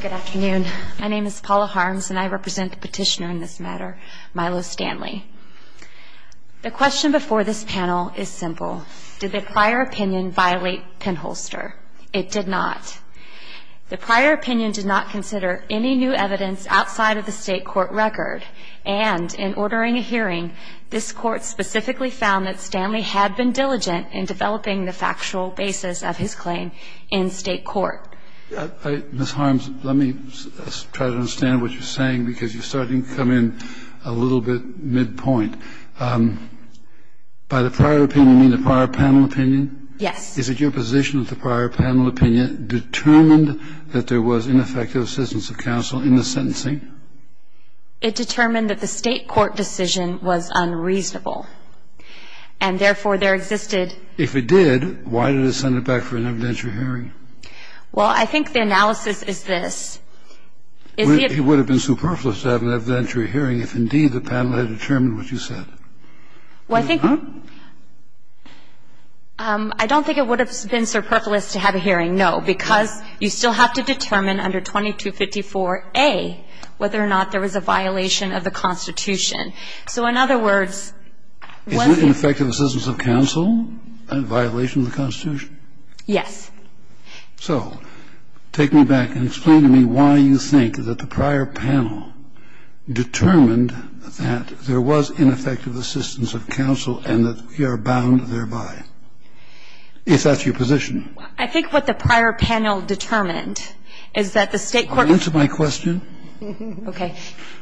Good afternoon. My name is Paula Harms and I represent the petitioner in this matter, Milo Stanley. The question before this panel is simple. Did the prior opinion violate Penholster? It did not. The prior opinion did not consider any new evidence outside of the state court record. And in ordering a hearing, this court specifically found that Stanley had been diligent in developing the factual basis of his claim in state court. Ms. Harms, let me try to understand what you're saying because you're starting to come in a little bit midpoint. By the prior opinion, you mean the prior panel opinion? Yes. Is it your position that the prior panel opinion determined that there was ineffective assistance of counsel in the sentencing? It determined that the state court decision was unreasonable and therefore there existed... If it did, why did it send it back for an evidentiary hearing? Well, I think the analysis is this. It would have been superfluous to have an evidentiary hearing if indeed the panel had determined what you said. Well, I think... It did not? I don't think it would have been superfluous to have a hearing, no, because you still have to determine under 2254a whether or not there was a violation of the Constitution. So in other words... Is it ineffective assistance of counsel and a violation of the Constitution? Yes. So take me back and explain to me why you think that the prior panel determined that there was ineffective assistance of counsel and that we are bound thereby. If that's your position. I think what the prior panel determined is that the state court... Answer my question. Okay.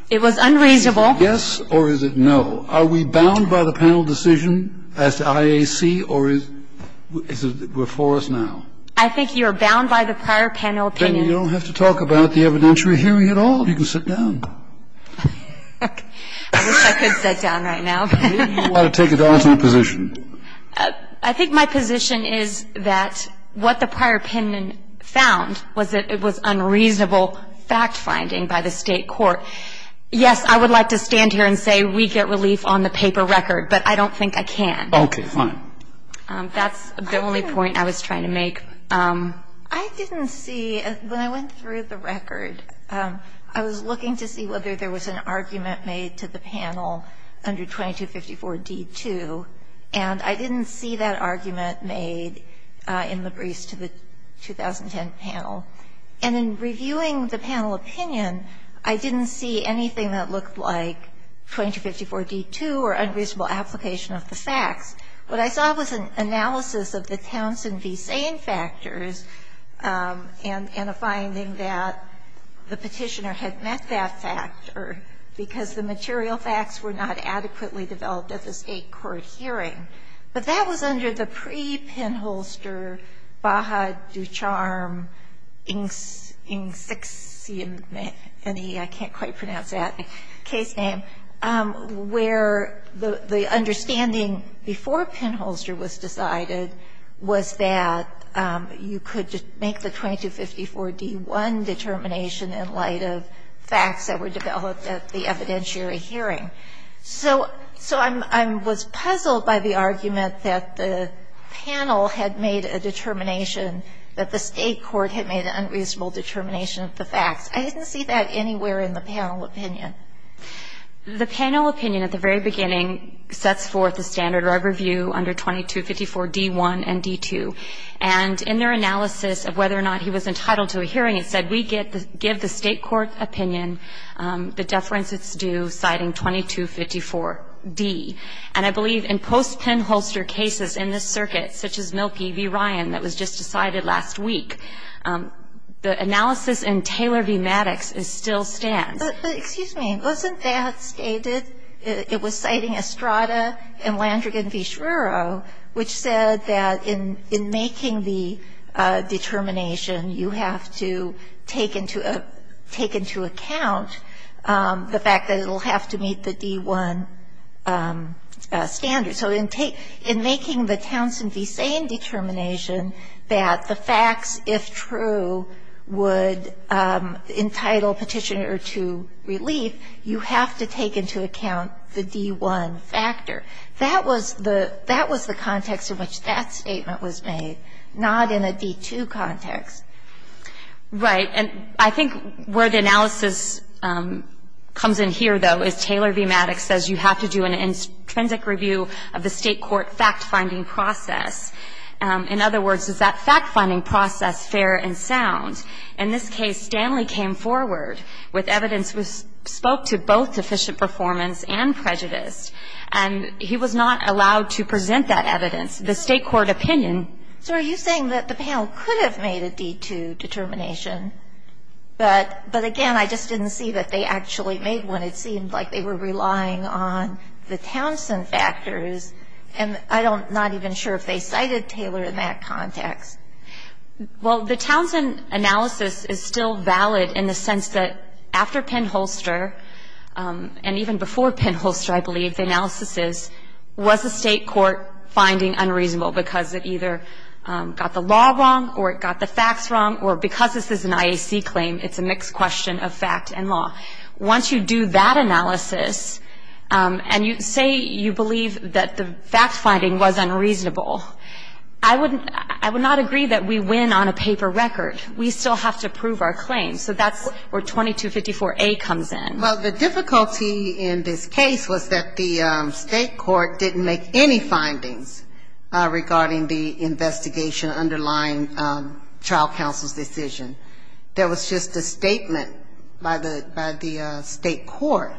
It was unreasonable. Yes, or is it no? Are we bound by the panel decision as to IAC or is it before us now? I think you're bound by the prior panel opinion. Then you don't have to talk about the evidentiary hearing at all. You can sit down. I wish I could sit down right now. Why don't you take an alternate position? I think my position is that what the prior panel found was that it was unreasonable fact-finding by the state court. Yes, I would like to stand here and say we get relief on the paper record, but I don't think I can. Okay. Fine. That's the only point I was trying to make. I didn't see, when I went through the record, I was looking to see whether there was an argument made to the panel under 2254d2, and I didn't see that argument made in the briefs to the 2010 panel. And in reviewing the panel opinion, I didn't see anything that looked like 2254d2 or unreasonable application of the facts. What I saw was an analysis of the Townsend v. Sain factors and a finding that the Petitioner had met that factor because the material facts were not adequately developed at the state court hearing. But that was under the pre-Penholster, Baja, Ducharme, Inks, Inksix, any, I can't quite pronounce that case name, where the understanding before Penholster was decided was that you could make the 2254d1 determination in light of facts that were developed at the evidentiary hearing. So I was puzzled by the argument that the panel had made a determination that the state court had made an unreasonable determination of the facts. I didn't see that anywhere in the panel opinion. The panel opinion at the very beginning sets forth the standard of review under 2254d1 and 2254d2. And in their analysis of whether or not he was entitled to a hearing, it said we give the state court opinion, the deference it's due, citing 2254d. And I believe in post-Penholster cases in this circuit, such as Mielke v. Ryan that was just decided last week, the analysis in Taylor v. Maddox still stands. But, excuse me, wasn't that stated, it was citing Estrada and Landrigan v. Schreuro, which said that in making the determination, you have to take into account the fact that it will have to meet the d1 standard. So in making the Townsend v. Sane determination that the facts, if true, would entitle Petitioner to relief, you have to take into account the d1 factor. That was the context in which that statement was made, not in a d2 context. Right. And I think where the analysis comes in here, though, is Taylor v. Maddox says you have to do an intrinsic review of the state court fact-finding process. In other words, is that fact-finding process fair and sound? In this case, Stanley came forward with evidence, spoke to both sufficient performance and prejudice. And he was not allowed to present that evidence. The state court opinion — So are you saying that the panel could have made a d2 determination, but again, I just didn't see that they actually made one. It seemed like they were relying on the Townsend factors, and I'm not even sure if they cited Taylor in that context. Well, the Townsend analysis is still valid in the sense that after Penn-Holster and even before Penn-Holster, I believe, the analysis is was the state court finding unreasonable because it either got the law wrong or it got the facts wrong or because this is an IAC claim, it's a mixed question of fact and law. Once you do that analysis and you say you believe that the fact-finding was unreasonable, I would not agree that we win on a paper record. We still have to prove our claim. So that's where 2254A comes in. Well, the difficulty in this case was that the state court didn't make any findings regarding the investigation underlying trial counsel's decision. There was just a statement by the state court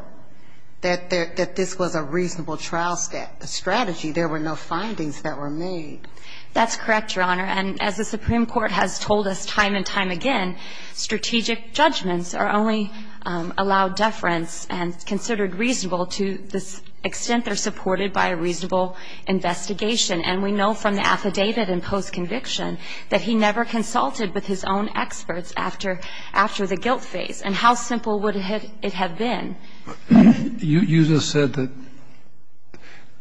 that this was a reasonable trial strategy. There were no findings that were made. That's correct, Your Honor. And as the Supreme Court has told us time and time again, strategic judgments are only allowed deference and considered reasonable to the extent they're supported by a reasonable investigation. And we know from the affidavit in post-conviction that he never consulted with his own experts after the guilt phase. And how simple would it have been? You just said that,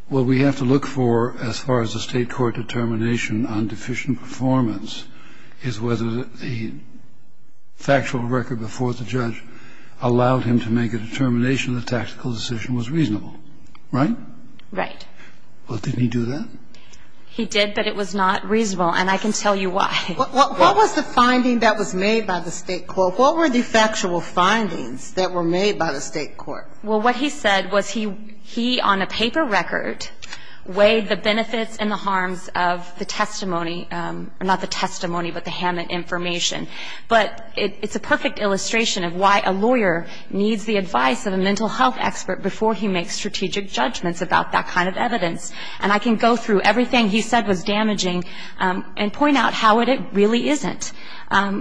well, we have to look for, as far as the state court determination on deficient performance is whether the factual record before the judge allowed him to make a determination the tactical decision was reasonable. Right? Right. Well, didn't he do that? He did, but it was not reasonable. And I can tell you why. What was the finding that was made by the state court? What were the factual findings that were made by the state court? Well, what he said was he, on a paper record, weighed the benefits and the harms of the testimony or not the testimony, but the Hammett information. But it's a perfect illustration of why a lawyer needs the advice of a mental health expert before he makes strategic judgments about that kind of evidence. And I can go through everything he said was damaging and point out how it really isn't.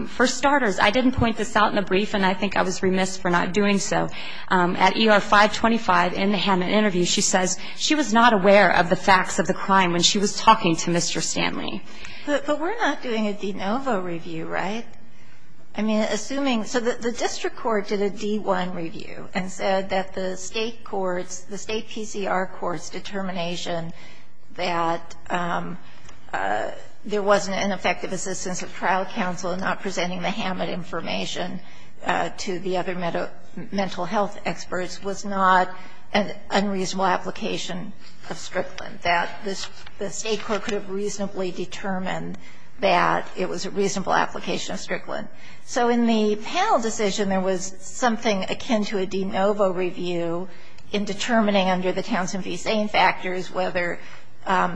For starters, I didn't point this out in the brief, and I think I was remiss for not doing so. At ER 525, in the Hammett interview, she says she was not aware of the facts of the crime when she was talking to Mr. Stanley. But we're not doing a de novo review, right? I mean, assuming so the district court did a D1 review and said that the state courts, the state PCR courts' determination that there wasn't an effective assistance of trial counsel in not presenting the Hammett information to the other mental health experts was not an unreasonable application of Strickland, that the state court could have reasonably determined that it was a reasonable application of Strickland. So in the panel decision, there was something akin to a de novo review in determining under the Townsend v. Zane factors whether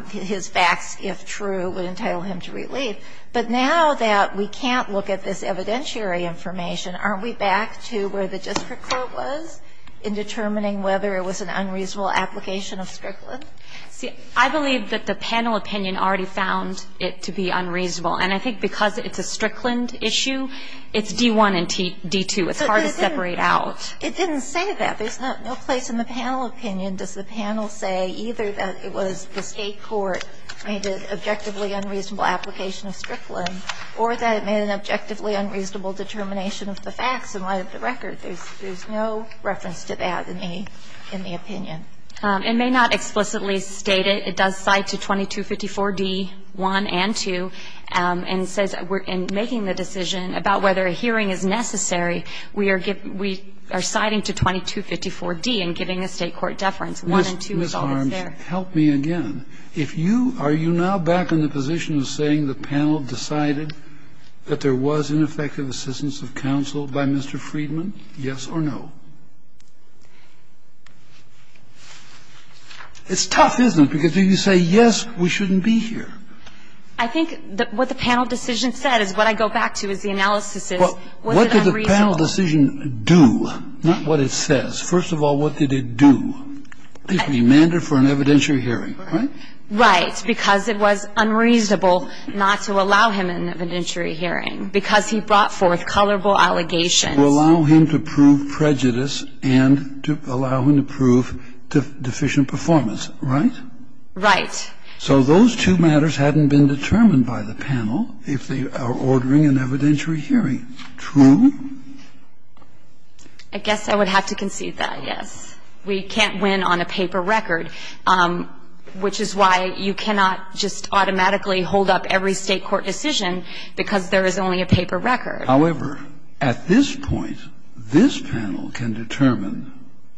his facts, if true, would entitle him to relief. But now that we can't look at this evidentiary information, aren't we back to where the district court was in determining whether it was an unreasonable application of Strickland? See, I believe that the panel opinion already found it to be unreasonable. And I think because it's a Strickland issue, it's D1 and D2. It's hard to separate out. It didn't say that. There's no place in the panel opinion. Does the panel say either that it was the state court made an objectively unreasonable application of Strickland or that it made an objectively unreasonable determination of the facts in light of the record? There's no reference to that in the opinion. It may not explicitly state it. It does cite to 2254D1 and 2. And it says in making the decision about whether a hearing is necessary, we are citing to 2254D and giving a state court deference. One and two is always there. Kennedy, Ms. Harms, help me again. If you are you now back in the position of saying the panel decided that there was ineffective assistance of counsel by Mr. Friedman, yes or no? It's tough, isn't it, because you say, yes, we shouldn't be here. I think what the panel decision said is what I go back to is the analysis is, was it unreasonable? The panel decision do, not what it says. First of all, what did it do? It demanded for an evidentiary hearing, right? Right. Because it was unreasonable not to allow him an evidentiary hearing because he brought forth colorable allegations. To allow him to prove prejudice and to allow him to prove deficient performance, right? Right. So those two matters hadn't been determined by the panel if they are ordering an evidentiary hearing. Now, the question is, can you say, true? I guess I would have to concede that, yes. We can't win on a paper record, which is why you cannot just automatically hold up every State court decision because there is only a paper record. However, at this point, this panel can determine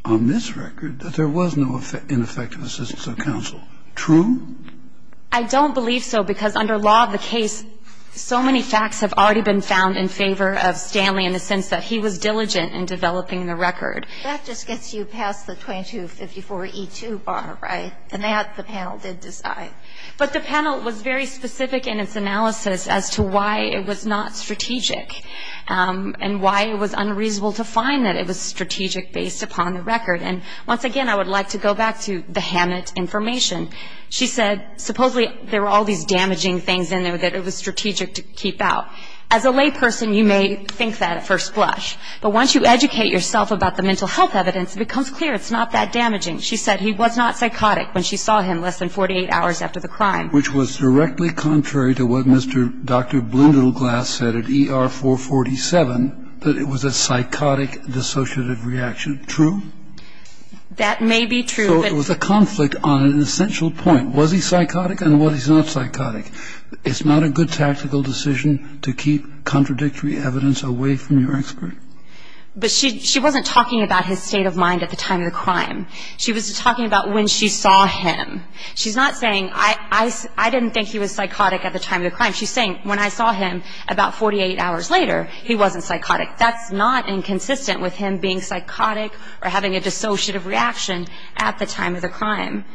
on this record that there was no ineffective assistance of counsel. True? I don't believe so, because under law of the case, so many facts have already been found in favor of Stanley in the sense that he was diligent in developing the record. That just gets you past the 2254E2 bar, right? And that the panel did decide. But the panel was very specific in its analysis as to why it was not strategic and why it was unreasonable to find that it was strategic based upon the record. And once again, I would like to go back to the Hammett information. She said supposedly there were all these damaging things in there that it was strategic to keep out. As a lay person, you may think that at first blush. But once you educate yourself about the mental health evidence, it becomes clear it's not that damaging. She said he was not psychotic when she saw him less than 48 hours after the crime. Which was directly contrary to what Mr. Dr. Blundell Glass said at ER447, that it was a psychotic dissociative reaction. True? That may be true. So it was a conflict on an essential point. Was he psychotic and was he not psychotic? It's not a good tactical decision to keep contradictory evidence away from your expert. But she wasn't talking about his state of mind at the time of the crime. She was talking about when she saw him. She's not saying I didn't think he was psychotic at the time of the crime. She's saying when I saw him about 48 hours later, he wasn't psychotic. That's not inconsistent with him being psychotic or having a dissociative reaction at the time of the crime.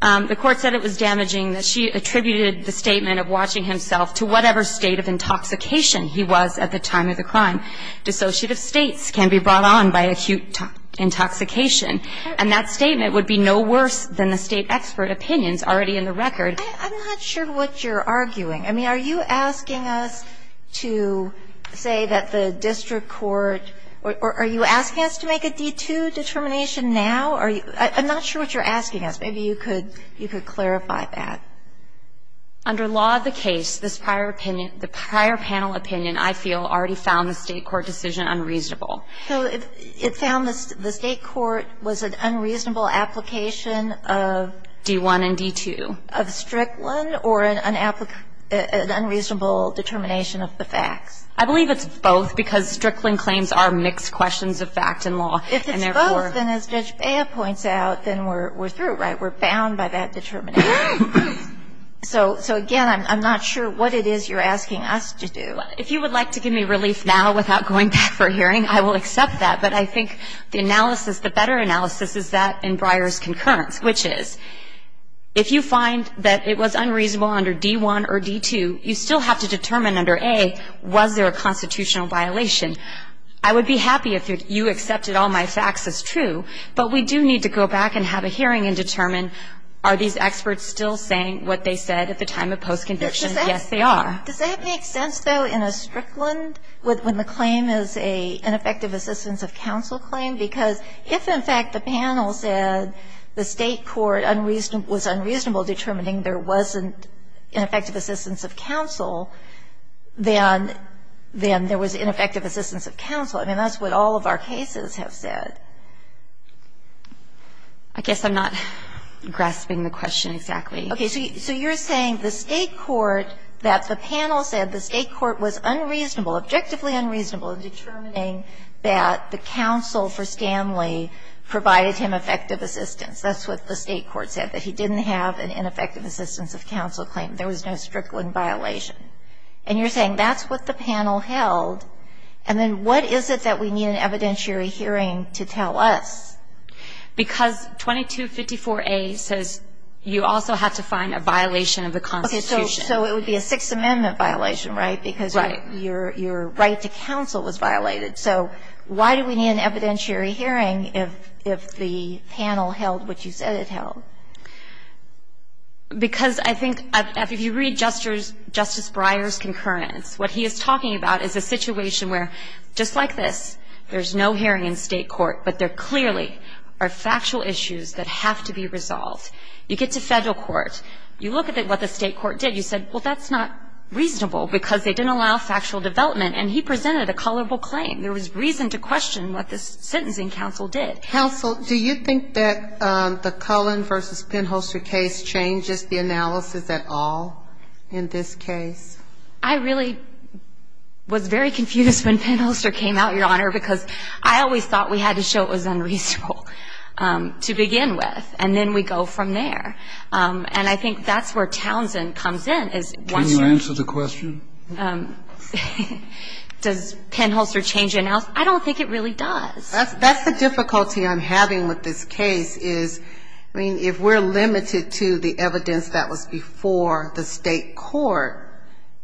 The court said it was damaging. She attributed the statement of watching himself to whatever state of intoxication he was at the time of the crime. Dissociative states can be brought on by acute intoxication. And that statement would be no worse than the state expert opinions already in the record. I'm not sure what you're arguing. I mean, are you asking us to say that the district court or are you asking us to make a D-2 determination now? I'm not sure what you're asking us. Maybe you could clarify that. Under law of the case, this prior opinion, the prior panel opinion, I feel already found the state court decision unreasonable. So it found the state court was an unreasonable application of? D-1 and D-2. Of Strickland or an unreasonable determination of the facts? I believe it's both because Strickland claims are mixed questions of fact and law. If it's both, then as Judge Bea points out, then we're through, right? We're bound by that determination. So, again, I'm not sure what it is you're asking us to do. If you would like to give me relief now without going back for a hearing, I will accept that. But I think the analysis, the better analysis is that in Breyer's concurrence, which is if you find that it was unreasonable under D-1 or D-2, you still have to determine under A was there a constitutional violation. I would be happy if you accepted all my facts as true, but we do need to go back and have a hearing and determine are these experts still saying what they said at the time of post-conviction? Yes, they are. Does that make sense, though, in a Strickland when the claim is an ineffective assistance of counsel claim? Because if, in fact, the panel said the State court was unreasonable determining there wasn't ineffective assistance of counsel, then there was ineffective assistance of counsel. I mean, that's what all of our cases have said. I guess I'm not grasping the question exactly. Okay. So you're saying the State court, that the panel said the State court was unreasonable, objectively unreasonable in determining that the counsel for Stanley provided him effective assistance. That's what the State court said, that he didn't have an ineffective assistance of counsel claim. There was no Strickland violation. And you're saying that's what the panel held, and then what is it that we need an evidentiary hearing to tell us? Because 2254A says you also have to find a violation of the Constitution. Okay. So it would be a Sixth Amendment violation, right? Your right to counsel was violated. So why do we need an evidentiary hearing if the panel held what you said it held? Because I think if you read Justice Breyer's concurrence, what he is talking about is a situation where, just like this, there's no hearing in State court, but there clearly are factual issues that have to be resolved. You get to Federal court. You look at what the State court did. You said, well, that's not reasonable because they didn't allow factual development. And he presented a colorable claim. There was reason to question what the sentencing counsel did. Counsel, do you think that the Cullen v. Penholster case changes the analysis at all in this case? I really was very confused when Penholster came out, Your Honor, because I always thought we had to show it was unreasonable to begin with, and then we go from there. And I think that's where Townsend comes in. Can you answer the question? Does Penholster change the analysis? I don't think it really does. That's the difficulty I'm having with this case is, I mean, if we're limited to the evidence that was before the State court,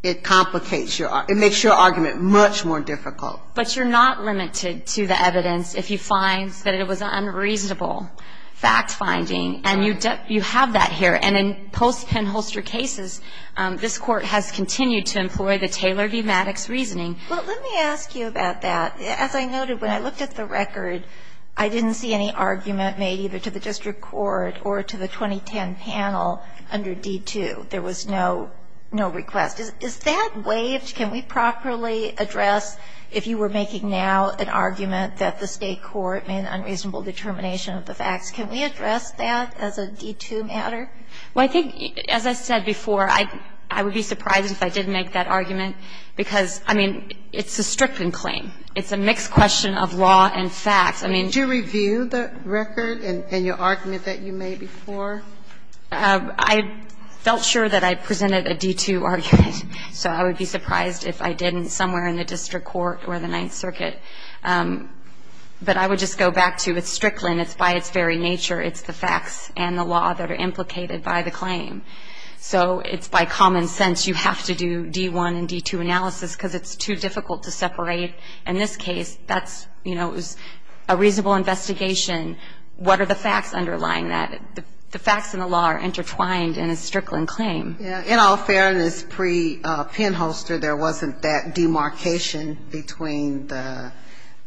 it complicates your argument, it makes your argument much more difficult. But you're not limited to the evidence if you find that it was unreasonable fact-finding. And you have that here. And in post-Penholster cases, this Court has continued to employ the Taylor v. Maddox reasoning. Well, let me ask you about that. As I noted, when I looked at the record, I didn't see any argument made either to the district court or to the 2010 panel under D-2. There was no request. Is that waived? Can we properly address if you were making now an argument that the State court made an unreasonable determination of the facts? Can we address that as a D-2 matter? Well, I think, as I said before, I would be surprised if I did make that argument, because, I mean, it's a stricken claim. It's a mixed question of law and facts. I mean do you review the record and your argument that you made before? I felt sure that I presented a D-2 argument, so I would be surprised if I didn't somewhere in the district court or the Ninth Circuit. But I would just go back to it's stricken. It's by its very nature. It's the facts and the law that are implicated by the claim. So it's by common sense you have to do D-1 and D-2 analysis because it's too difficult to separate. In this case, that's, you know, it was a reasonable investigation. What are the facts underlying that? The facts and the law are intertwined in a stricken claim. In all fairness, pre-Penholster, there wasn't that demarcation between the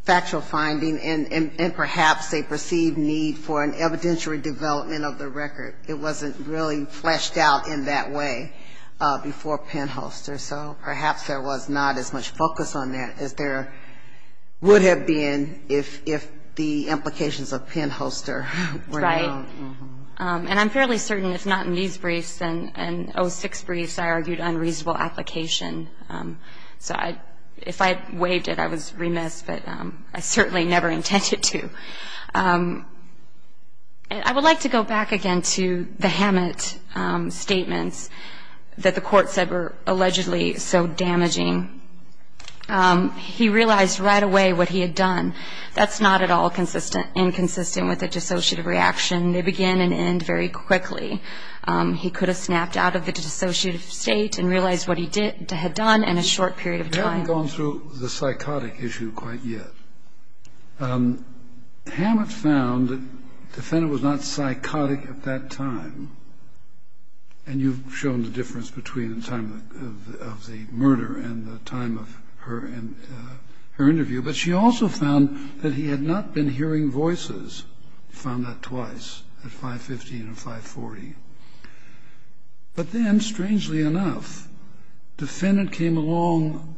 factual finding and perhaps a perceived need for an evidentiary development of the record. It wasn't really fleshed out in that way before Penholster. So perhaps there was not as much focus on that as there would have been if the Right. And I'm fairly certain if not in these briefs and O6 briefs, I argued unreasonable application. So if I had waived it, I was remiss, but I certainly never intended to. I would like to go back again to the Hammett statements that the Court said were allegedly so damaging. He realized right away what he had done. That's not at all inconsistent with a dissociative reaction. They begin and end very quickly. He could have snapped out of the dissociative state and realized what he had done in a short period of time. You haven't gone through the psychotic issue quite yet. Hammett found the defendant was not psychotic at that time. And you've shown the difference between the time of the murder and the time of her interview. But she also found that he had not been hearing voices. She found that twice, at 515 and 540. But then, strangely enough, the defendant came along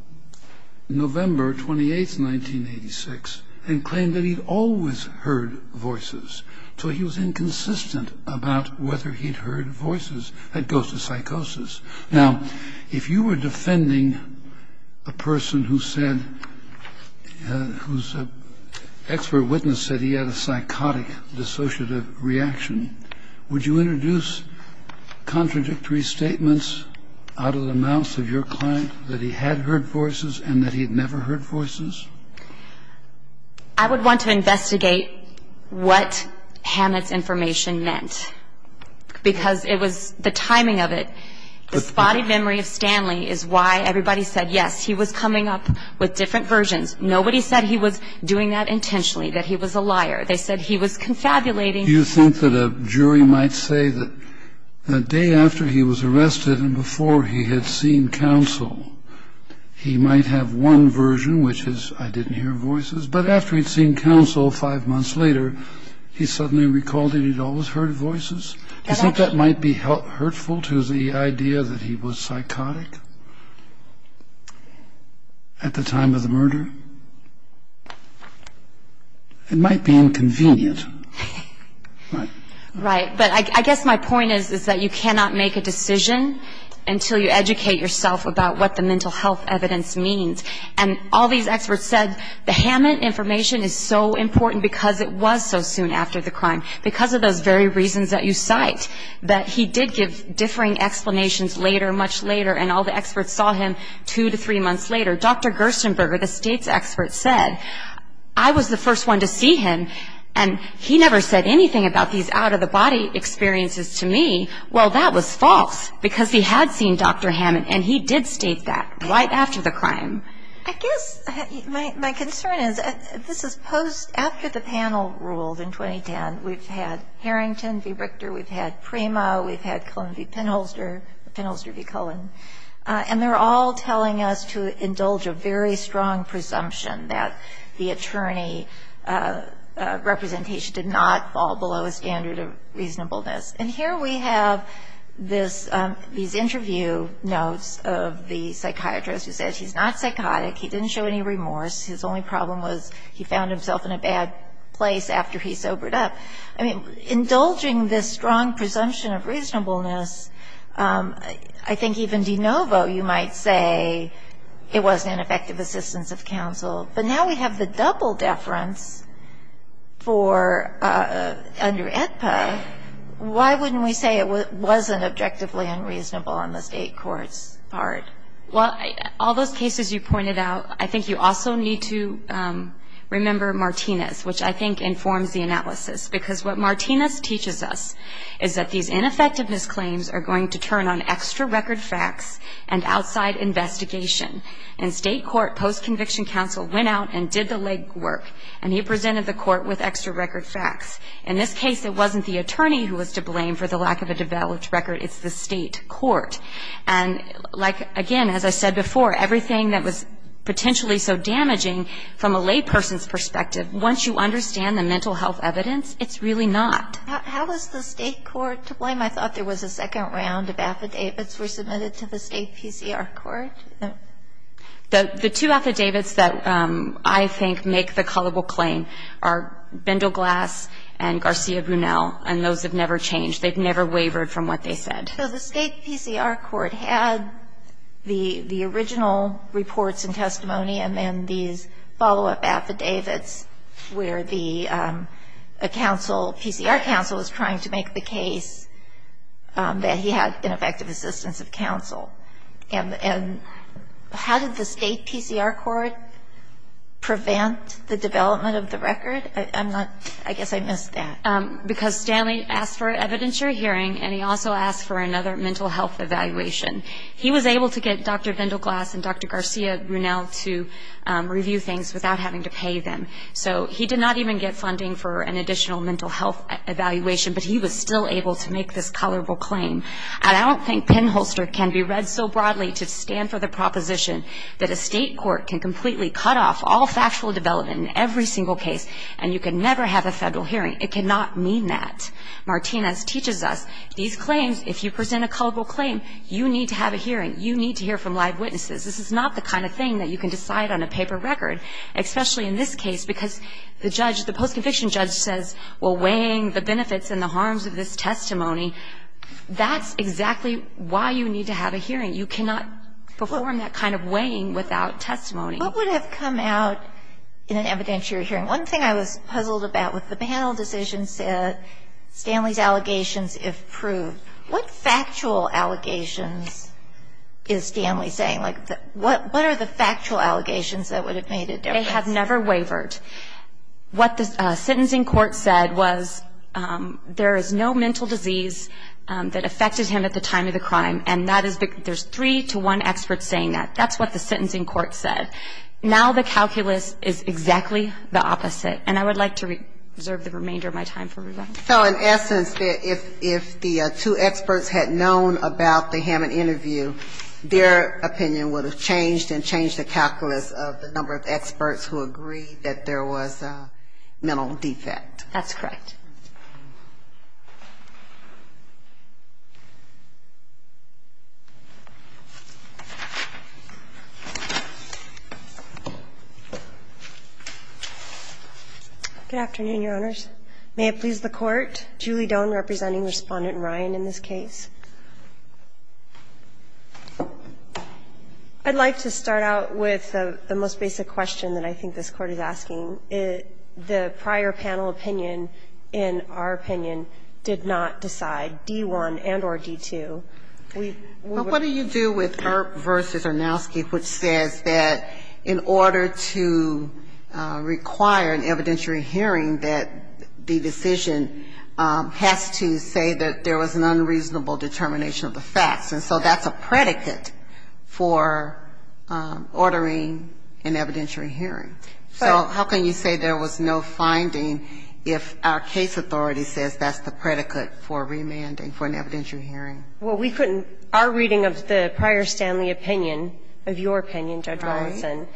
November 28, 1986, and claimed that he'd always heard voices. So he was inconsistent about whether he'd heard voices. That goes to psychosis. Now, if you were defending a person whose expert witness said he had a psychosis, a psychotic dissociative reaction, would you introduce contradictory statements out of the mouths of your client that he had heard voices and that he'd never heard voices? I would want to investigate what Hammett's information meant. Because it was the timing of it. The spotted memory of Stanley is why everybody said, yes, he was coming up with different versions. Nobody said he was doing that intentionally, that he was a liar. They said he was confabulating. Do you think that a jury might say that the day after he was arrested and before he had seen counsel, he might have one version, which is, I didn't hear voices, but after he'd seen counsel five months later, he suddenly recalled that he'd always heard voices? Do you think that might be hurtful to the idea that he was psychotic at the time of the murder? It might be inconvenient. Right. But I guess my point is, is that you cannot make a decision until you educate yourself about what the mental health evidence means. And all these experts said the Hammett information is so important because it was so soon after the crime, because of those very reasons that you cite, that he did give differing explanations later, much later, and all the experts saw him two to three months later. Dr. Gerstenberger, the state's expert, said, I was the first one to see him, and he never said anything about these out-of-the-body experiences to me. Well, that was false, because he had seen Dr. Hammett, and he did state that right after the crime. I guess my concern is, this is post-after the panel ruled in 2010. We've had Harrington v. Richter. We've had Primo. We've had Cullen v. Penholster, Penholster v. Cullen. And they're all telling us to indulge a very strong presumption that the attorney representation did not fall below a standard of reasonableness. And here we have these interview notes of the psychiatrist who says he's not psychotic. He didn't show any remorse. His only problem was he found himself in a bad place after he sobered up. Indulging this strong presumption of reasonableness, I think even de novo you might say it wasn't an effective assistance of counsel. But now we have the double deference under AEDPA. Why wouldn't we say it wasn't objectively unreasonable on the state court's part? Well, all those cases you pointed out, I think you also need to remember Martinez, which I think informs the analysis. Because what Martinez teaches us is that these ineffectiveness claims are going to turn on extra record facts and outside investigation. In state court, post-conviction counsel went out and did the legwork. And he presented the court with extra record facts. In this case, it wasn't the attorney who was to blame for the lack of a developed record. It's the state court. And like, again, as I said before, everything that was potentially so damaging from a layperson's perspective, once you understand the mental health evidence, it's really not. How was the state court to blame? I thought there was a second round of affidavits were submitted to the state PCR court. The two affidavits that I think make the culpable claim are Bindleglass and Garcia Brunel. And those have never changed. They've never wavered from what they said. So the state PCR court had the original reports and testimony and then these follow-up affidavits where the counsel, PCR counsel, was trying to make the case that he had ineffective assistance of counsel. And how did the state PCR court prevent the development of the record? I'm not – I guess I missed that. Because Stanley asked for evidence for a hearing and he also asked for another mental health evaluation. He was able to get Dr. Bindleglass and Dr. Garcia Brunel to review things without having to pay them. So he did not even get funding for an additional mental health evaluation, but he was still able to make this culpable claim. And I don't think pinholster can be read so broadly to stand for the proposition that a state court can completely cut off all factual development in every single case and you can never have a federal hearing. It cannot mean that. Martinez teaches us these claims, if you present a culpable claim, you need to have a hearing. You need to hear from live witnesses. This is not the kind of thing that you can decide on a paper record, especially in this case, because the judge, the post-conviction judge says, well, weighing the benefits and the harms of this testimony, that's exactly why you need to have a hearing. You cannot perform that kind of weighing without testimony. What would have come out in an evidentiary hearing? One thing I was puzzled about with the panel decision said, Stanley's allegations if proved. What factual allegations is Stanley saying? Like, what are the factual allegations that would have made a difference? They have never wavered. What the sentencing court said was there is no mental disease that affected him at the time of the crime, and there's three to one expert saying that. That's what the sentencing court said. Now the calculus is exactly the opposite. And I would like to reserve the remainder of my time for rebuttal. So in essence, if the two experts had known about the Hammond interview, their opinion would have changed and changed the calculus of the number of experts who agreed that there was a mental defect. That's correct. Good afternoon, Your Honors. May it please the Court. Julie Doan representing Respondent Ryan in this case. I'd like to start out with the most basic question that I think this Court is asking. The prior panel opinion in our opinion did not decide D-1 and or D-2. What do you do with Earp v. Arnowski, which says that in order to require an evidentiary hearing, that the decision has to say that there was an unreasonable determination of the facts. And so that's a predicate for ordering an evidentiary hearing. So how can you say there was no finding if our case authority says that's the predicate for remanding for an evidentiary hearing? Well, we couldn't. Our reading of the prior Stanley opinion, of your opinion, Judge Rawlinson,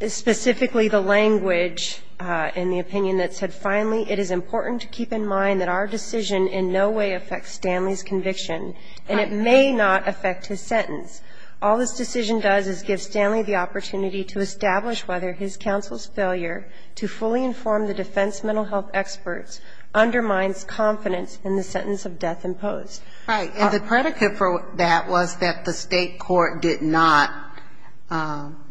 is specifically the language in the opinion that said, finally it is important to keep in mind that our decision in no way affects Stanley's conviction, and it may not affect his sentence. All this decision does is give Stanley the opportunity to establish whether his counsel's failure to fully inform the defense mental health experts undermines confidence in the sentence of death imposed. Right. And the predicate for that was that the State court did not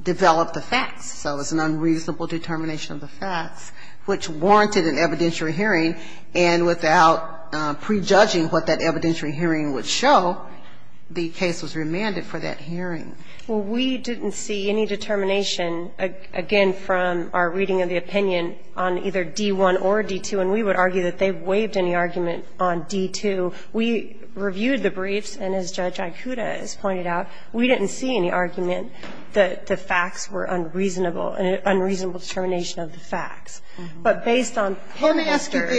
develop the facts. So it was an unreasonable determination of the facts, which warranted an evidentiary hearing, and without prejudging what that evidentiary hearing would show, the case was remanded for that hearing. Well, we didn't see any determination, again, from our reading of the opinion on either D-1 or D-2, and we would argue that they waived any argument on D-2. We reviewed the briefs, and as Judge Aikuda has pointed out, we didn't see any argument that the facts were unreasonable, an unreasonable determination of the facts. But based on court masters ----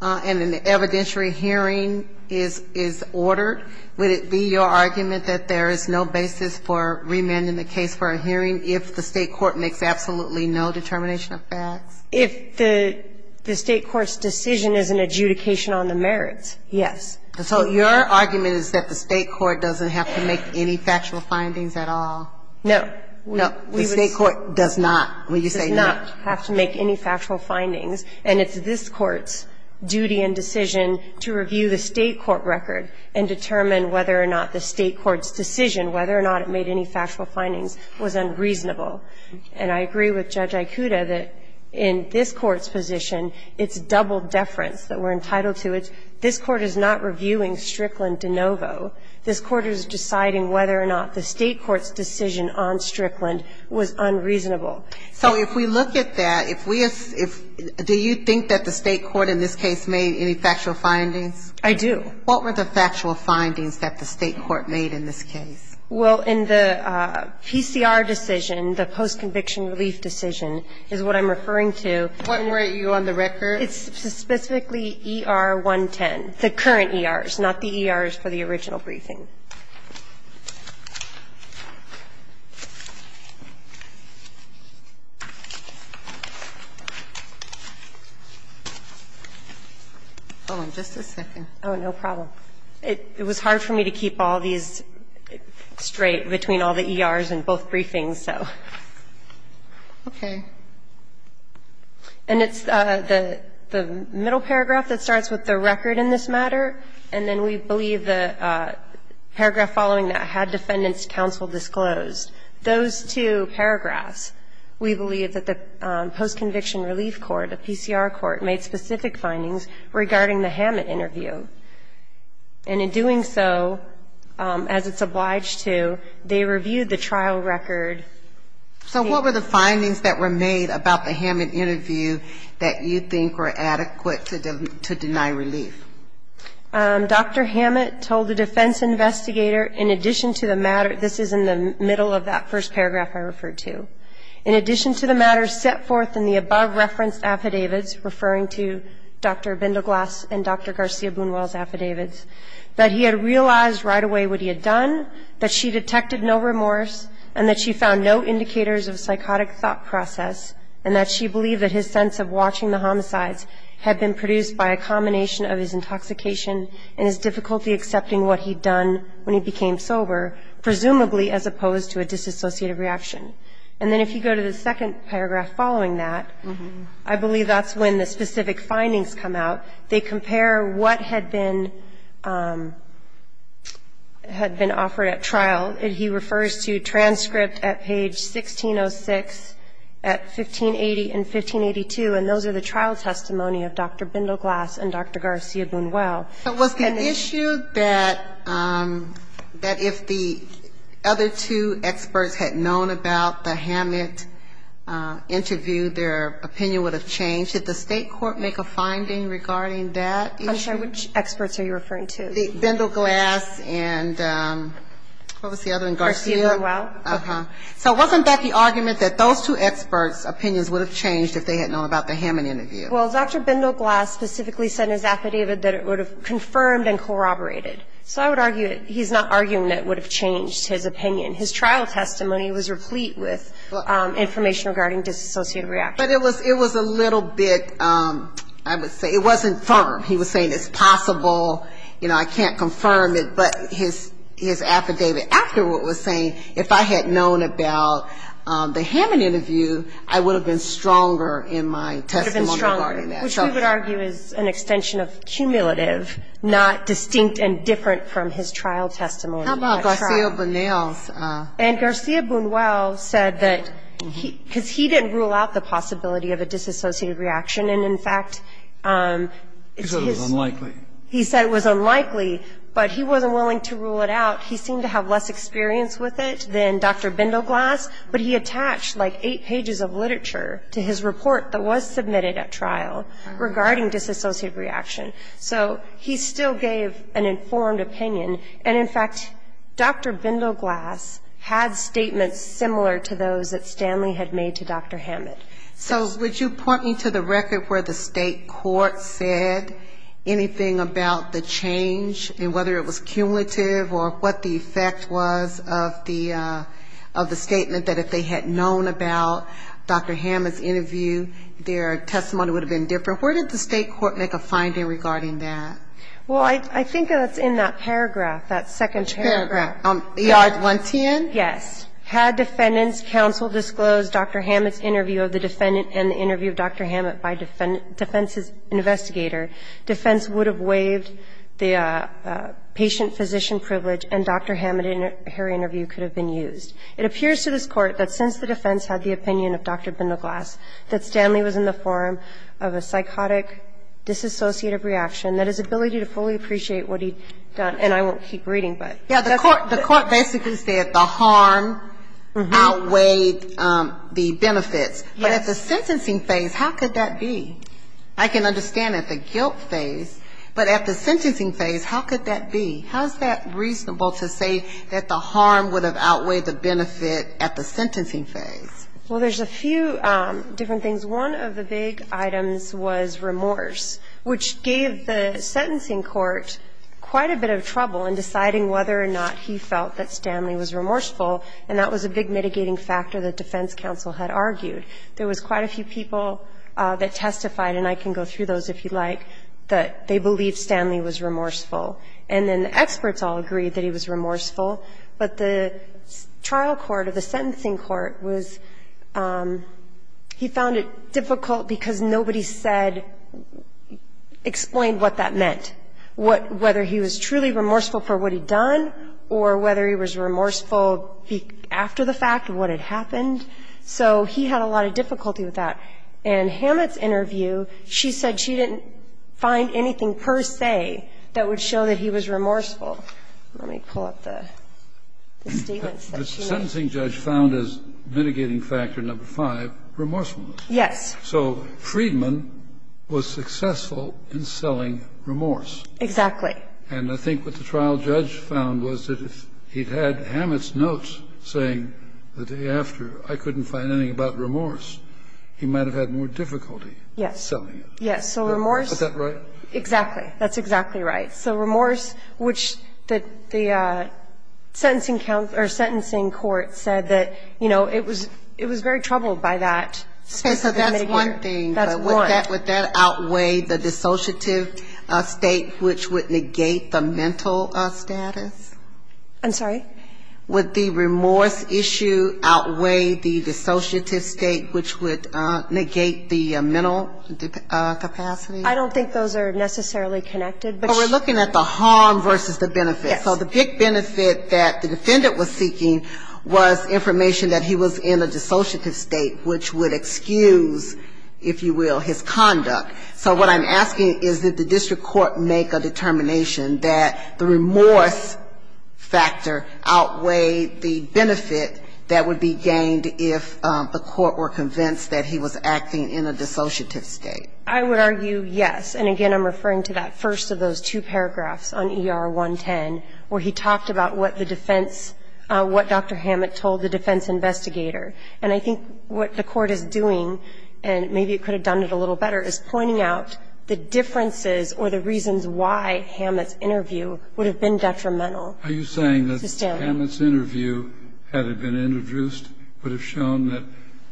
And an evidentiary hearing is ordered, would it be your argument that there is no basis for remanding the case for a hearing if the State court makes absolutely no determination of facts? If the State court's decision is an adjudication on the merits, yes. So your argument is that the State court doesn't have to make any factual findings at all? No. No, the State court does not, when you say not. The State court does not have to make any factual findings, and it's this Court's duty and decision to review the State court record and determine whether or not the State court's decision, whether or not it made any factual findings, was unreasonable. And I agree with Judge Aikuda that in this Court's position, it's double deference that we're entitled to. This Court is not reviewing Strickland de novo. This Court is deciding whether or not the State court's decision on Strickland was unreasonable. So if we look at that, do you think that the State court in this case made any factual findings? I do. What were the factual findings that the State court made in this case? Well, in the PCR decision, the post-conviction relief decision, is what I'm referring to. What were you on the record? It's specifically ER 110, the current ERs, not the ERs for the original briefing. Hold on just a second. Oh, no problem. It was hard for me to keep all these straight between all the ERs in both briefings, so. Okay. And it's the middle paragraph that starts with the record in this matter, and then we believe the paragraph following that had defendant's counsel disclosed. Those two paragraphs, we believe that the post-conviction relief court, the PCR court, made specific findings regarding the Hammett interview. And in doing so, as it's obliged to, they reviewed the trial record. So what were the findings that were made about the Hammett interview that you think were adequate to deny relief? Dr. Hammett told the defense investigator, in addition to the matter, this is in the middle of that first paragraph I referred to, in addition to the matter set forth in the above-referenced affidavits, referring to Dr. Bindleglass and Dr. Garcia-Boonwell's affidavits, that he had realized right away what he had done, that she detected no remorse, and that she found no indicators of psychotic thought process, and that she believed that his sense of watching the homicides had been produced by a combination of his intoxication and his difficulty accepting what he'd done when he became sober, presumably as opposed to a disassociative reaction. And then if you go to the second paragraph following that, I believe that's when the specific findings come out. They compare what had been offered at trial. He refers to transcript at page 1606 and 1582, and those are the trial testimony of Dr. Bindleglass and Dr. Garcia-Boonwell. Was the issue that if the other two experts had known about the Hammett interview, their opinion would have changed? Did the State court make a finding regarding that issue? I'm sorry, which experts are you referring to? Bindleglass and what was the other one? Garcia-Boonwell. So wasn't that the argument that those two experts' opinions would have changed if they had known about the Hammett interview? Well, Dr. Bindleglass specifically said in his affidavit that it would have confirmed and corroborated. So I would argue that he's not arguing that it would have changed his opinion. His trial testimony was replete with information regarding disassociative reaction. But it was a little bit, I would say, it wasn't firm. He was saying it's possible, you know, I can't confirm it. But his affidavit afterward was saying if I had known about the Hammett interview, I would have been stronger in my testimony regarding that. You would have been stronger, which we would argue is an extension of cumulative, not distinct and different from his trial testimony. How about Garcia-Bundell's? And Garcia-Bundell said that, because he didn't rule out the possibility of a disassociative reaction, and, in fact, it's his. He said it was unlikely. But he wasn't willing to rule it out. He seemed to have less experience with it than Dr. Bindleglass. But he attached like eight pages of literature to his report that was submitted at trial regarding disassociative reaction. So he still gave an informed opinion. And, in fact, Dr. Bindleglass had statements similar to those that Stanley had made to Dr. Hammett. So would you point me to the record where the state court said anything about the change, and whether it was cumulative or what the effect was of the statement that if they had known about Dr. Hammett's interview, their testimony would have been different? Where did the state court make a finding regarding that? Well, I think that's in that paragraph, that second paragraph. Which paragraph? ER-110? Yes. It says, "...had Defendant's counsel disclosed Dr. Hammett's interview of the defendant and the interview of Dr. Hammett by defense's investigator, defense would have waived the patient-physician privilege and Dr. Hammett and her interview could have been used. It appears to this Court that since the defense had the opinion of Dr. Bindleglass that Stanley was in the form of a psychotic disassociative reaction that his ability to fully appreciate what he'd done..." And I won't keep reading, but... Yeah, the court basically said the harm outweighed the benefits. But at the sentencing phase, how could that be? I can understand at the guilt phase, but at the sentencing phase, how could that be? How is that reasonable to say that the harm would have outweighed the benefit at the sentencing phase? Well, there's a few different things. One of the big items was remorse, which gave the sentencing court quite a bit of trouble in deciding whether or not he felt that Stanley was remorseful, and that was a big mitigating factor that defense counsel had argued. There was quite a few people that testified, and I can go through those if you'd like, that they believed Stanley was remorseful. And then the experts all agreed that he was remorseful, but the trial court or the defense court found it difficult because nobody said or explained what that meant, whether he was truly remorseful for what he'd done or whether he was remorseful after the fact of what had happened. So he had a lot of difficulty with that. In Hammett's interview, she said she didn't find anything per se that would show that he was remorseful. Let me pull up the statements that she made. The sentencing judge found as mitigating factor number five remorsefulness. Yes. So Friedman was successful in selling remorse. Exactly. And I think what the trial judge found was that if he'd had Hammett's notes saying the day after, I couldn't find anything about remorse, he might have had more difficulty selling it. Yes. Yes. So remorse. Is that right? Exactly. That's exactly right. So remorse, which the sentencing counsel or sentencing court said that, you know, it was very troubled by that. Okay. So that's one thing. That's one. Would that outweigh the dissociative state, which would negate the mental status? I'm sorry? Would the remorse issue outweigh the dissociative state, which would negate the mental capacity? I don't think those are necessarily connected. But we're looking at the harm versus the benefit. Yes. So the big benefit that the defendant was seeking was information that he was in a dissociative state, which would excuse, if you will, his conduct. So what I'm asking is that the district court make a determination that the remorse factor outweighed the benefit that would be gained if the court were convinced that he was acting in a dissociative state. I would argue yes. And again, I'm referring to that first of those two paragraphs on ER-110, where he talked about what the defense, what Dr. Hammett told the defense investigator. And I think what the court is doing, and maybe it could have done it a little better, is pointing out the differences or the reasons why Hammett's interview would have been detrimental. Are you saying that Hammett's interview, had it been introduced, would have shown that,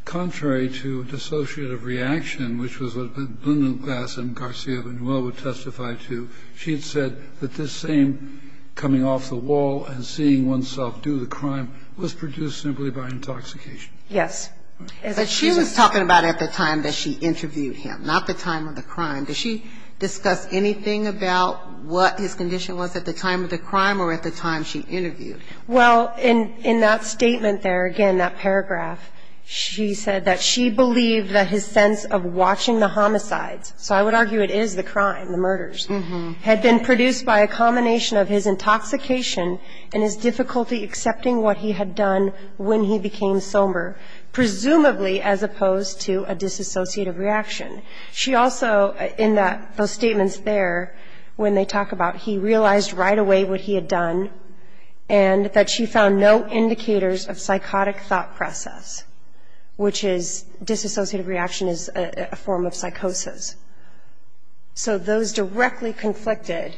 contrary to dissociative reaction, which was what Lyndon Glass and Garcia Manuel would testify to, she had said that this same coming off the wall and seeing oneself do the crime was produced simply by intoxication? Yes. But she was talking about it at the time that she interviewed him, not the time of the crime. Did she discuss anything about what his condition was at the time of the crime or at the time she interviewed him? Well, in that statement there, again, that paragraph, she said that she believed that his sense of watching the homicides, so I would argue it is the crime, the murders, had been produced by a combination of his intoxication and his difficulty accepting what he had done when he became somber, presumably as opposed to a dissociative reaction. She also, in those statements there, when they talk about he realized right away what he had done and that she found no indicators of psychotic thought process, which is, dissociative reaction is a form of psychosis. So those directly conflicted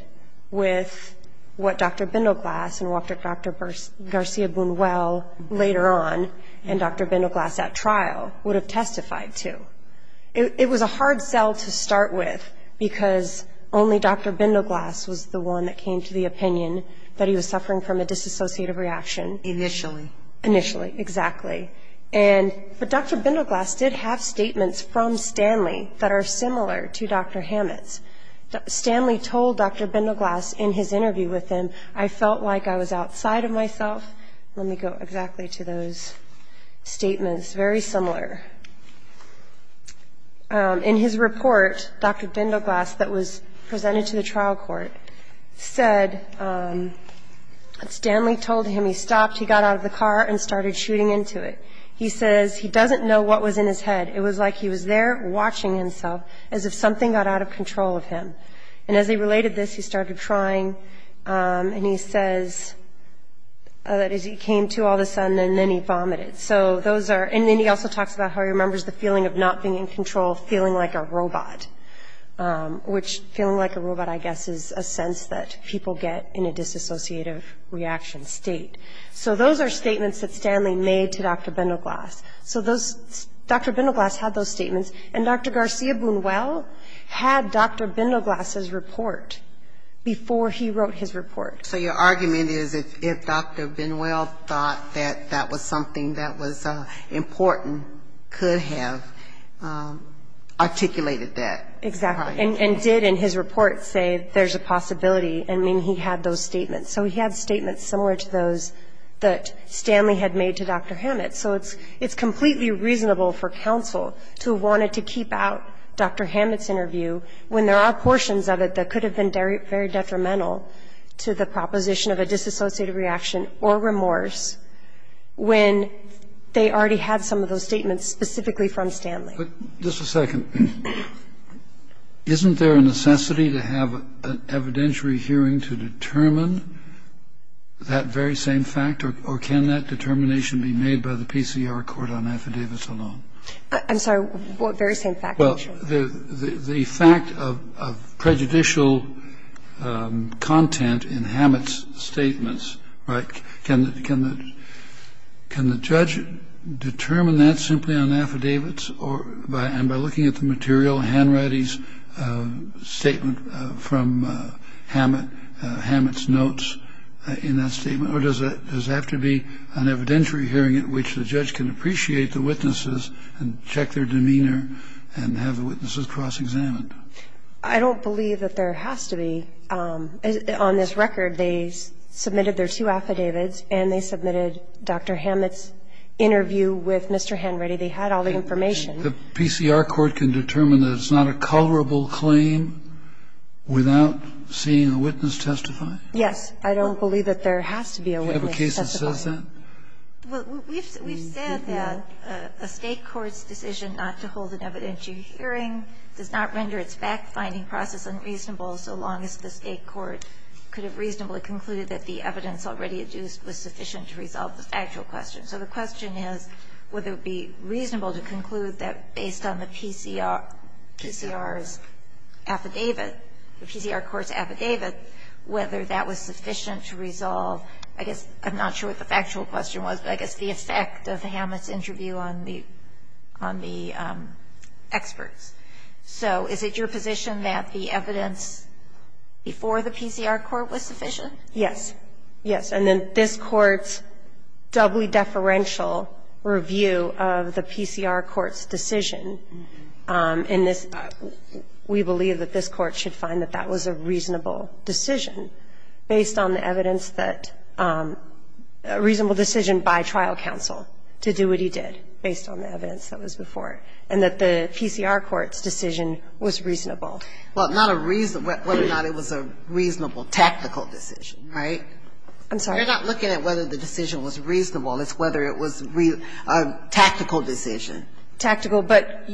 with what Dr. Bindleglass and what Dr. Garcia Manuel later on and Dr. Bindleglass at trial would have testified to. It was a hard sell to start with because only Dr. Bindleglass was the one that came to the opinion that he was suffering from a dissociative reaction. Initially. Initially, exactly. But Dr. Bindleglass did have statements from Stanley that are similar to Dr. Hammett's. Stanley told Dr. Bindleglass in his interview with him, I felt like I was outside of myself. Let me go exactly to those statements, very similar. In his report, Dr. Bindleglass that was presented to the trial court said that Stanley told him he stopped, he got out of the car and started shooting into it. He says he doesn't know what was in his head. It was like he was there watching himself as if something got out of control of him. And as he related this, he started crying and he says that as he came to all of a sudden and then he vomited. So those are, and then he also talks about how he remembers the feeling of not being in control, feeling like a robot, which feeling like a robot I guess is a sense that people get in a dissociative reaction state. So those are statements that Stanley made to Dr. Bindleglass. So those, Dr. Bindleglass had those statements and Dr. Garcia Bunuel had Dr. Bindleglass's report before he wrote his report. So your argument is that if Dr. Bunuel thought that that was something that was important, could have articulated that. Exactly. And did in his report say there's a possibility and mean he had those statements. So he had statements similar to those that Stanley had made to Dr. Hammett. So it's completely reasonable for counsel to have wanted to keep out Dr. Hammett's interview when there are portions of it that could have been very detrimental to the proposition of a disassociative reaction or remorse when they already had some of those statements specifically from Stanley. Just a second. Isn't there a necessity to have an evidentiary hearing to determine that very same fact or can that determination be made by the PCR court on affidavits alone? I'm sorry. What very same fact? Well, the fact of prejudicial content in Hammett's statements, right, can the judge determine that simply on affidavits and by looking at the material, Hanratty's statement from Hammett's notes in that statement? Or does it have to be an evidentiary hearing at which the judge can appreciate the witnesses and check their demeanor and have the witnesses cross-examined? I don't believe that there has to be. On this record, they submitted their two affidavits and they submitted Dr. Hammett's interview with Mr. Hanratty. They had all the information. The PCR court can determine that it's not a colorable claim without seeing a witness testify? Yes. I don't believe that there has to be a witness testify. Do you have a case that says that? Well, we've said that a State court's decision not to hold an evidentiary hearing does not render its fact-finding process unreasonable so long as the State court could have reasonably concluded that the evidence already adduced was sufficient to resolve the factual question. So the question is would it be reasonable to conclude that based on the PCR's affidavit, the PCR court's affidavit, whether that was sufficient to resolve I guess I'm not sure what the factual question was, but I guess the effect of Hammett's interview on the experts. So is it your position that the evidence before the PCR court was sufficient? Yes. Yes. And then this Court's doubly deferential review of the PCR court's decision in this we believe that this Court should find that that was a reasonable decision based on the evidence that a reasonable decision by trial counsel to do what he did based on the evidence that was before it, and that the PCR court's decision was reasonable. Well, not a reason. Whether or not it was a reasonable tactical decision, right? I'm sorry. You're not looking at whether the decision was reasonable. It's whether it was a tactical decision. Tactical, but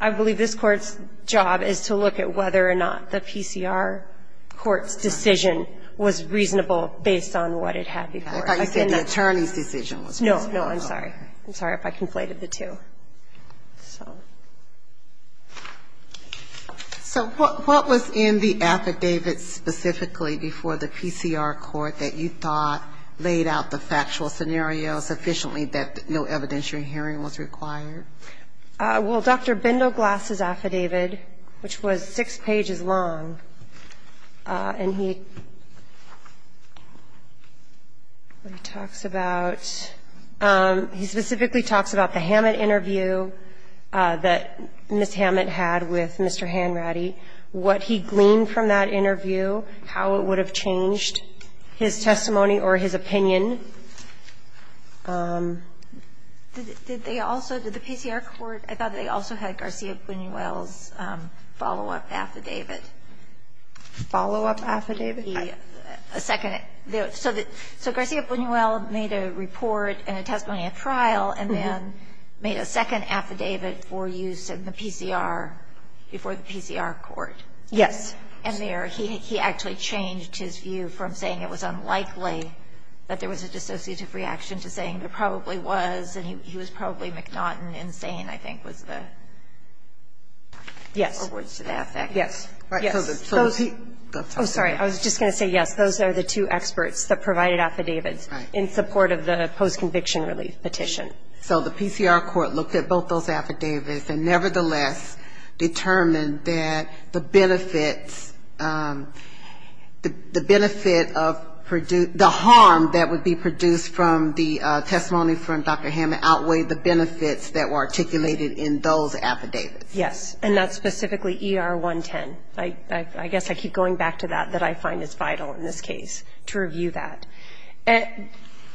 I believe this Court's job is to look at whether or not the PCR court's decision was reasonable based on what it had before it. If I said the attorney's decision was reasonable. No. No. I'm sorry. I'm sorry if I conflated the two. So what was in the affidavit specifically before the PCR court that you thought laid out the factual scenario sufficiently that no evidentiary hearing was required? Well, Dr. Bindoglass' affidavit, which was 6 pages long, and he talks about, he specifically talks about the Hammett interview that Ms. Hammett had with Mr. Hanratty, what he gleaned from that interview, how it would have changed his testimony or his opinion. Did they also, did the PCR court, I thought they also had Garcia-Buñuel's follow-up affidavit. Follow-up affidavit? A second. So Garcia-Buñuel made a report and a testimony at trial and then made a second affidavit for use in the PCR before the PCR court. Yes. And there, he actually changed his view from saying it was unlikely that there was a dissociative reaction to saying there probably was, and he was probably mcNaughton and saying, I think, was the words to that effect. Yes. Yes. Yes. So is he? Oh, sorry. I was just going to say yes. Those are the two experts that provided affidavits in support of the post-conviction relief petition. So the PCR court looked at both those affidavits and nevertheless determined that the benefits, the benefit of, the harm that would be produced from the testimony from Dr. Hammond outweighed the benefits that were articulated in those affidavits. Yes. And that's specifically ER 110. I guess I keep going back to that, that I find it's vital in this case to review that.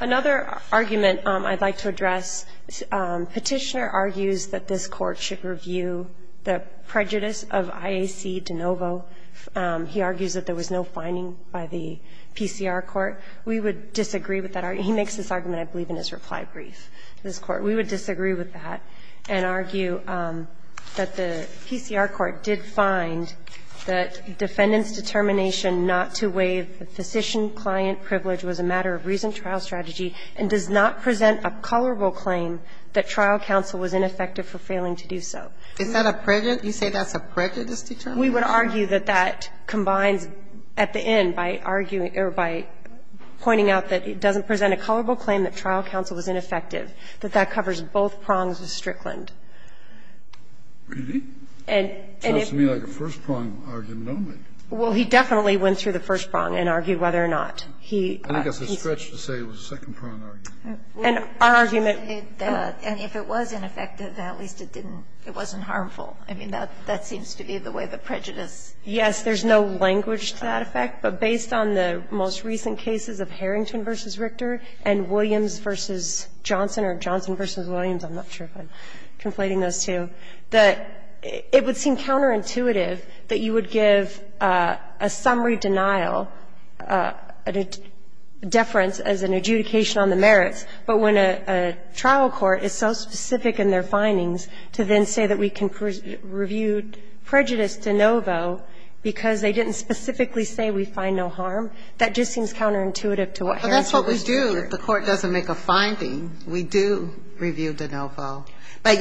Another argument I'd like to address, Petitioner argues that this court should have looked at the testimony of IAC de Novo. He argues that there was no finding by the PCR court. We would disagree with that. He makes this argument, I believe, in his reply brief to this Court. We would disagree with that and argue that the PCR court did find that defendant's determination not to waive the physician-client privilege was a matter of reason trial strategy and does not present a colorable claim that trial counsel was ineffective for failing to do so. Is that a prejudice? You say that's a prejudiced determination? We would argue that that combines at the end by arguing or by pointing out that it doesn't present a colorable claim that trial counsel was ineffective, that that covers both prongs of Strickland. Really? It sounds to me like a first-prong argument only. Well, he definitely went through the first prong and argued whether or not he. I think it's a stretch to say it was a second-prong argument. An argument. And if it was ineffective, then at least it didn't, it wasn't harmful. I mean, that seems to be the way the prejudice. Yes, there's no language to that effect. But based on the most recent cases of Harrington v. Richter and Williams v. Johnson or Johnson v. Williams, I'm not sure if I'm conflating those two, that it would seem counterintuitive that you would give a summary denial, a deference as an adjudication on the merits, but when a trial court is so specific in their findings to then say that we can review prejudice de novo because they didn't specifically say we find no harm, that just seems counterintuitive to what Harrington was doing. Well, that's what we do. If the court doesn't make a finding, we do review de novo. But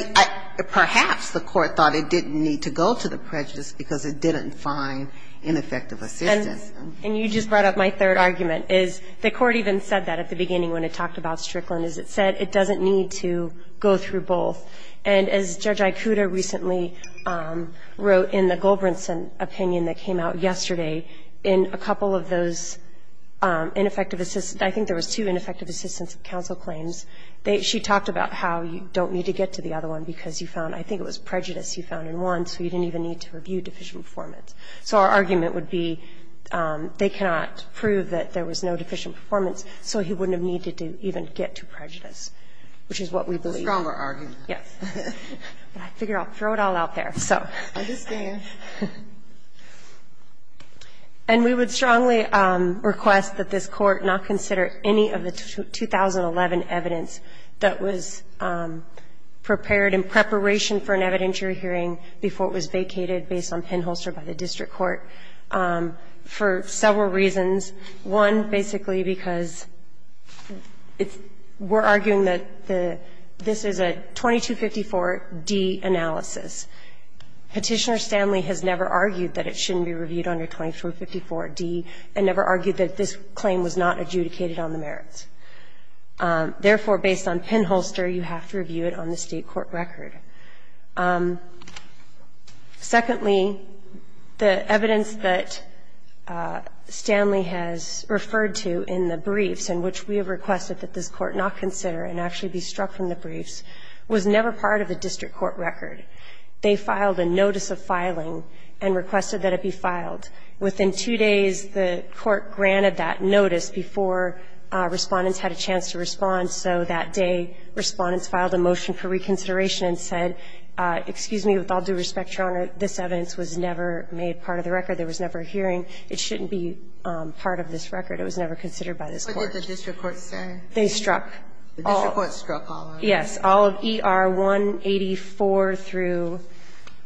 perhaps the court thought it didn't need to go to the prejudice because it didn't find ineffective assistance. And you just brought up my third argument, is the court even said that at the beginning when it talked about Strickland, is it said it doesn't need to go through both. And as Judge Ikuda recently wrote in the Golbrinson opinion that came out yesterday, in a couple of those ineffective assistance, I think there was two ineffective assistance counsel claims, she talked about how you don't need to get to the other one because you found, I think it was prejudice you found in one, so you didn't even need to review deficient performance. So our argument would be they cannot prove that there was no deficient performance, so he wouldn't have needed to even get to prejudice, which is what we believe. The stronger argument. Yes. But I figure I'll throw it all out there, so. I understand. And we would strongly request that this Court not consider any of the 2011 evidence that was prepared in preparation for an evidentiary hearing before it was vacated based on pinholster by the district court for several reasons. One, basically because we're arguing that this is a 2254d analysis. Petitioner Stanley has never argued that it shouldn't be reviewed under 2254d and never argued that this claim was not adjudicated on the merits. Therefore, based on pinholster, you have to review it on the State court record. Secondly, the evidence that Stanley has referred to in the briefs in which we have requested that this Court not consider and actually be struck from the briefs was never part of the district court record. They filed a notice of filing and requested that it be filed. Within two days, the Court granted that notice before Respondents had a chance to respond, so that day Respondents filed a motion for reconsideration and said, excuse me, with all due respect, Your Honor, this evidence was never made part of the record. There was never a hearing. It shouldn't be part of this record. It was never considered by this Court. Ginsburg. What did the district court say? They struck all of them. The district court struck all of them? Yes. All of ER 184 through,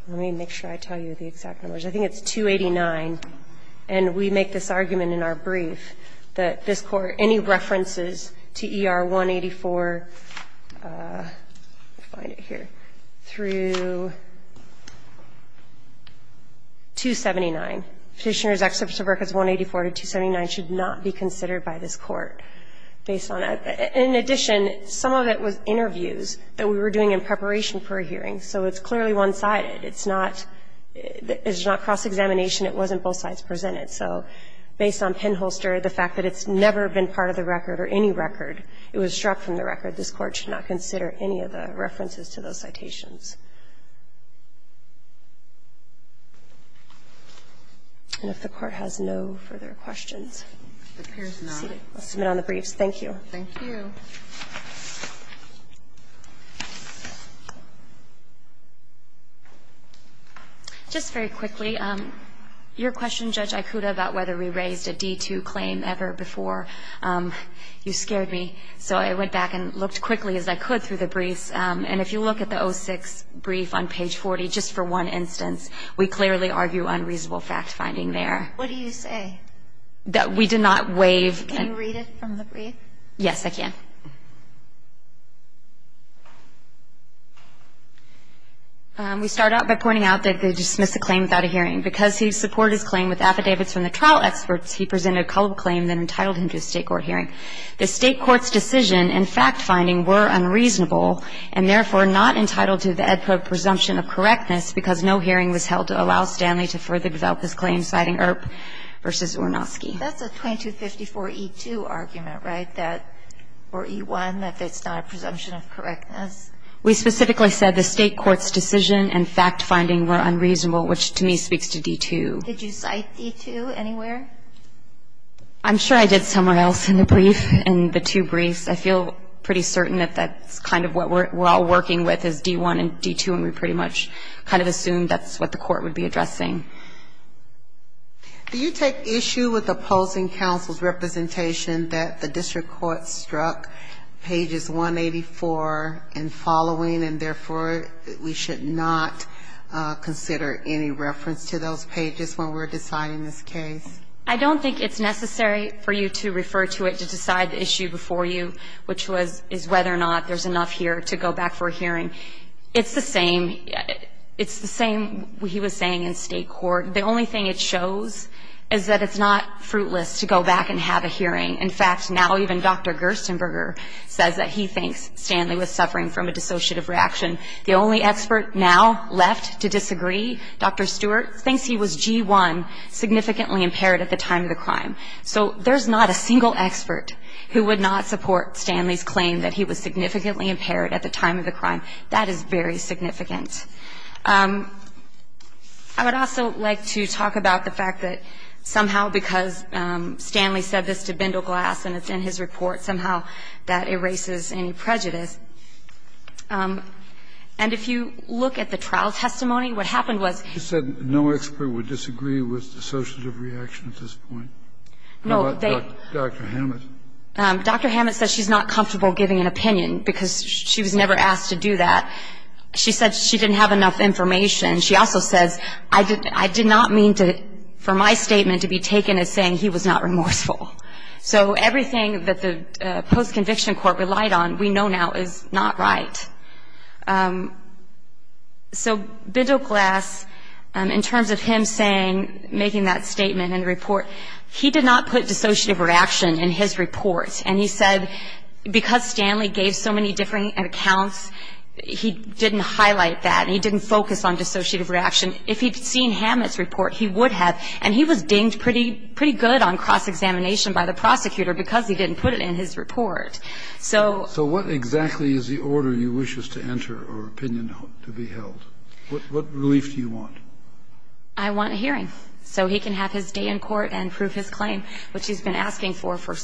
let me make sure I tell you the exact numbers. I think it's 289. And we make this argument in our brief that this Court, any references to ER 184 through 279, Petitioners' Excerpts of Records 184 to 279, should not be considered by this Court based on that. In addition, some of it was interviews that we were doing in preparation for a hearing. So it's clearly one-sided. It's not cross-examination. It wasn't both sides presented. So based on Penholster, the fact that it's never been part of the record or any record, it was struck from the record, this Court should not consider any of the references to those citations. And if the Court has no further questions. It appears not. I'll submit on the briefs. Thank you. Thank you. Just very quickly, your question, Judge Ikuda, about whether we raised a D2 claim ever before, you scared me. So I went back and looked quickly as I could through the briefs. And if you look at the 06 brief on page 40, just for one instance, we clearly argue unreasonable fact-finding there. What do you say? That we did not waive. Can you read it from the brief? Yes, I can. We start out by pointing out that they dismiss a claim without a hearing. Because he supported his claim with affidavits from the trial experts, he presented a culpable claim that entitled him to a State court hearing. The State court's decision and fact-finding were unreasonable and, therefore, not entitled to the ad pro presumption of correctness because no hearing was held to allow Stanley to further develop his claim, citing Earp v. Ornosky. That's a 2254E2 argument, right, that or E1, that it's not a presumption of correctness? We specifically said the State court's decision and fact-finding were unreasonable, which to me speaks to D2. Did you cite D2 anywhere? I'm sure I did somewhere else in the brief, in the two briefs. I feel pretty certain that that's kind of what we're all working with is D1 and D2, and we pretty much kind of assumed that's what the court would be addressing. Do you take issue with opposing counsel's representation that the district court struck pages 184 and following, and, therefore, we should not consider any reference to those pages when we're deciding this case? I don't think it's necessary for you to refer to it to decide the issue before you, which was whether or not there's enough here to go back for a hearing. It's the same. I think what he was saying in State court, the only thing it shows is that it's not fruitless to go back and have a hearing. In fact, now even Dr. Gerstenberger says that he thinks Stanley was suffering from a dissociative reaction. The only expert now left to disagree, Dr. Stewart, thinks he was G1, significantly impaired at the time of the crime. So there's not a single expert who would not support Stanley's claim that he was significantly impaired at the time of the crime. That is very significant. I would also like to talk about the fact that somehow, because Stanley said this to Bindleglass and it's in his report, somehow that erases any prejudice. And if you look at the trial testimony, what happened was he said no expert would disagree with dissociative reaction at this point. How about Dr. Hammett? Dr. Hammett says she's not comfortable giving an opinion, because she was never asked to do that. She said she didn't have enough information. She also says, I did not mean for my statement to be taken as saying he was not remorseful. So everything that the post-conviction court relied on we know now is not right. So Bindleglass, in terms of him saying, making that statement in the report, he did not put dissociative reaction in his report. And he said, because Stanley gave so many different accounts, he didn't highlight that and he didn't focus on dissociative reaction. If he'd seen Hammett's report, he would have. And he was dinged pretty good on cross-examination by the prosecutor because he didn't put it in his report. So what exactly is the order you wish us to enter or opinion to be held? What relief do you want? I want a hearing so he can have his day in court and prove his claim, which he's been asking for for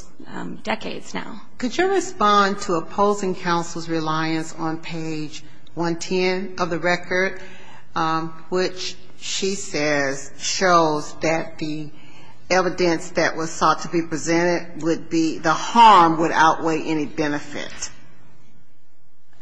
decades now. Could you respond to opposing counsel's reliance on page 110 of the record, which she says shows that the evidence that was sought to be presented would be the harm would outweigh any benefit?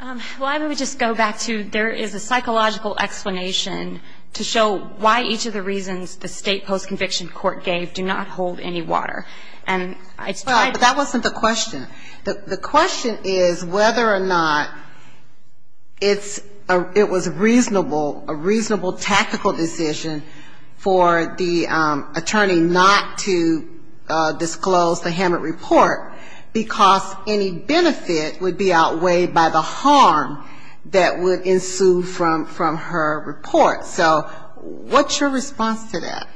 Well, I would just go back to there is a psychological explanation to show why each of the reasons the state post-conviction court gave do not hold any water. But that wasn't the question. The question is whether or not it was reasonable, a reasonable tactical decision for the attorney not to disclose the Hammett report because any benefit would be outweighed by the harm that would ensue from her report. So what's your response to that?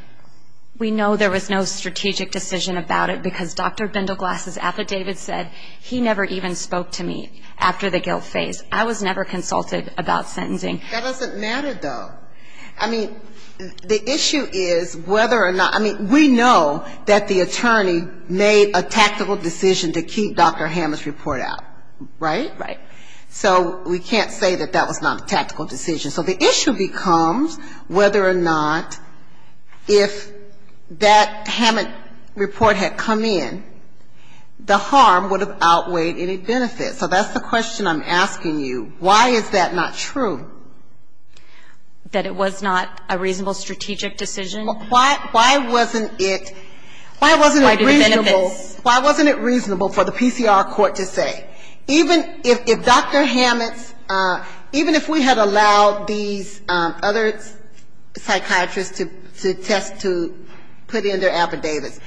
We know there was no strategic decision about it because Dr. Bindleglass' affidavit said he never even spoke to me after the guilt phase. I was never consulted about sentencing. That doesn't matter, though. I mean, the issue is whether or not we know that the attorney made a tactical decision to keep Dr. Hammett's report out, right? Right. So we can't say that that was not a tactical decision. So the issue becomes whether or not if that Hammett report had come in, the harm would have outweighed any benefit. So that's the question I'm asking you. Why is that not true? That it was not a reasonable strategic decision? Well, why wasn't it reasonable for the PCR court to say? Even if Dr. Hammett even if we had allowed these other psychiatrists to test to put in their affidavits,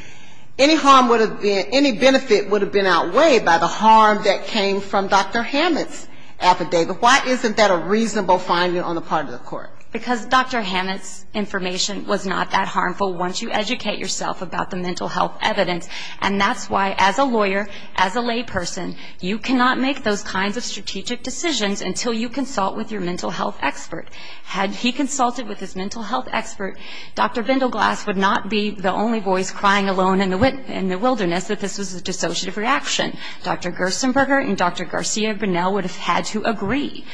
any harm would have been any benefit would have been outweighed by the harm that came from Dr. Hammett's affidavit. Why isn't that a reasonable finding on the part of the court? Because Dr. Hammett's information was not that harmful once you educate yourself about the mental health evidence. And that's why as a lawyer, as a layperson, you can't make strategic decisions until you consult with your mental health expert. Had he consulted with his mental health expert, Dr. Bindleglass would not be the only voice crying alone in the wilderness that this was a dissociative reaction. Dr. Gersenberger and Dr. Garcia-Brunel would have had to agree.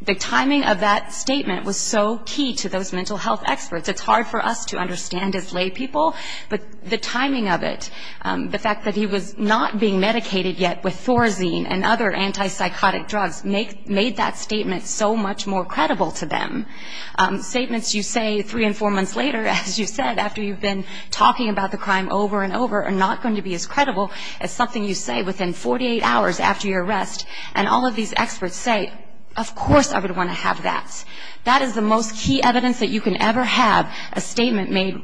The timing of that statement was so key to those mental health experts. It's hard for us to understand as laypeople, but the timing of it, the fact that he was not being medicated yet with Thorazine and other antipsychotic drugs made that statement so much more credible to them. Statements you say three and four months later, as you said, after you've been talking about the crime over and over, are not going to be as credible as something you say within 48 hours after your arrest. And all of these experts say, of course I would want to have that. That is the most key evidence that you can ever have, a statement made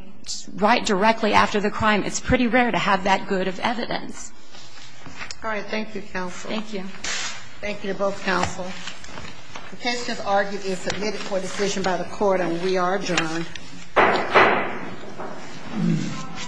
right directly after the crime. It's pretty rare to have that good of evidence. All right. Thank you, counsel. Thank you. Thank you to both counsel. The case is argued and submitted for decision by the court, and we are adjourned.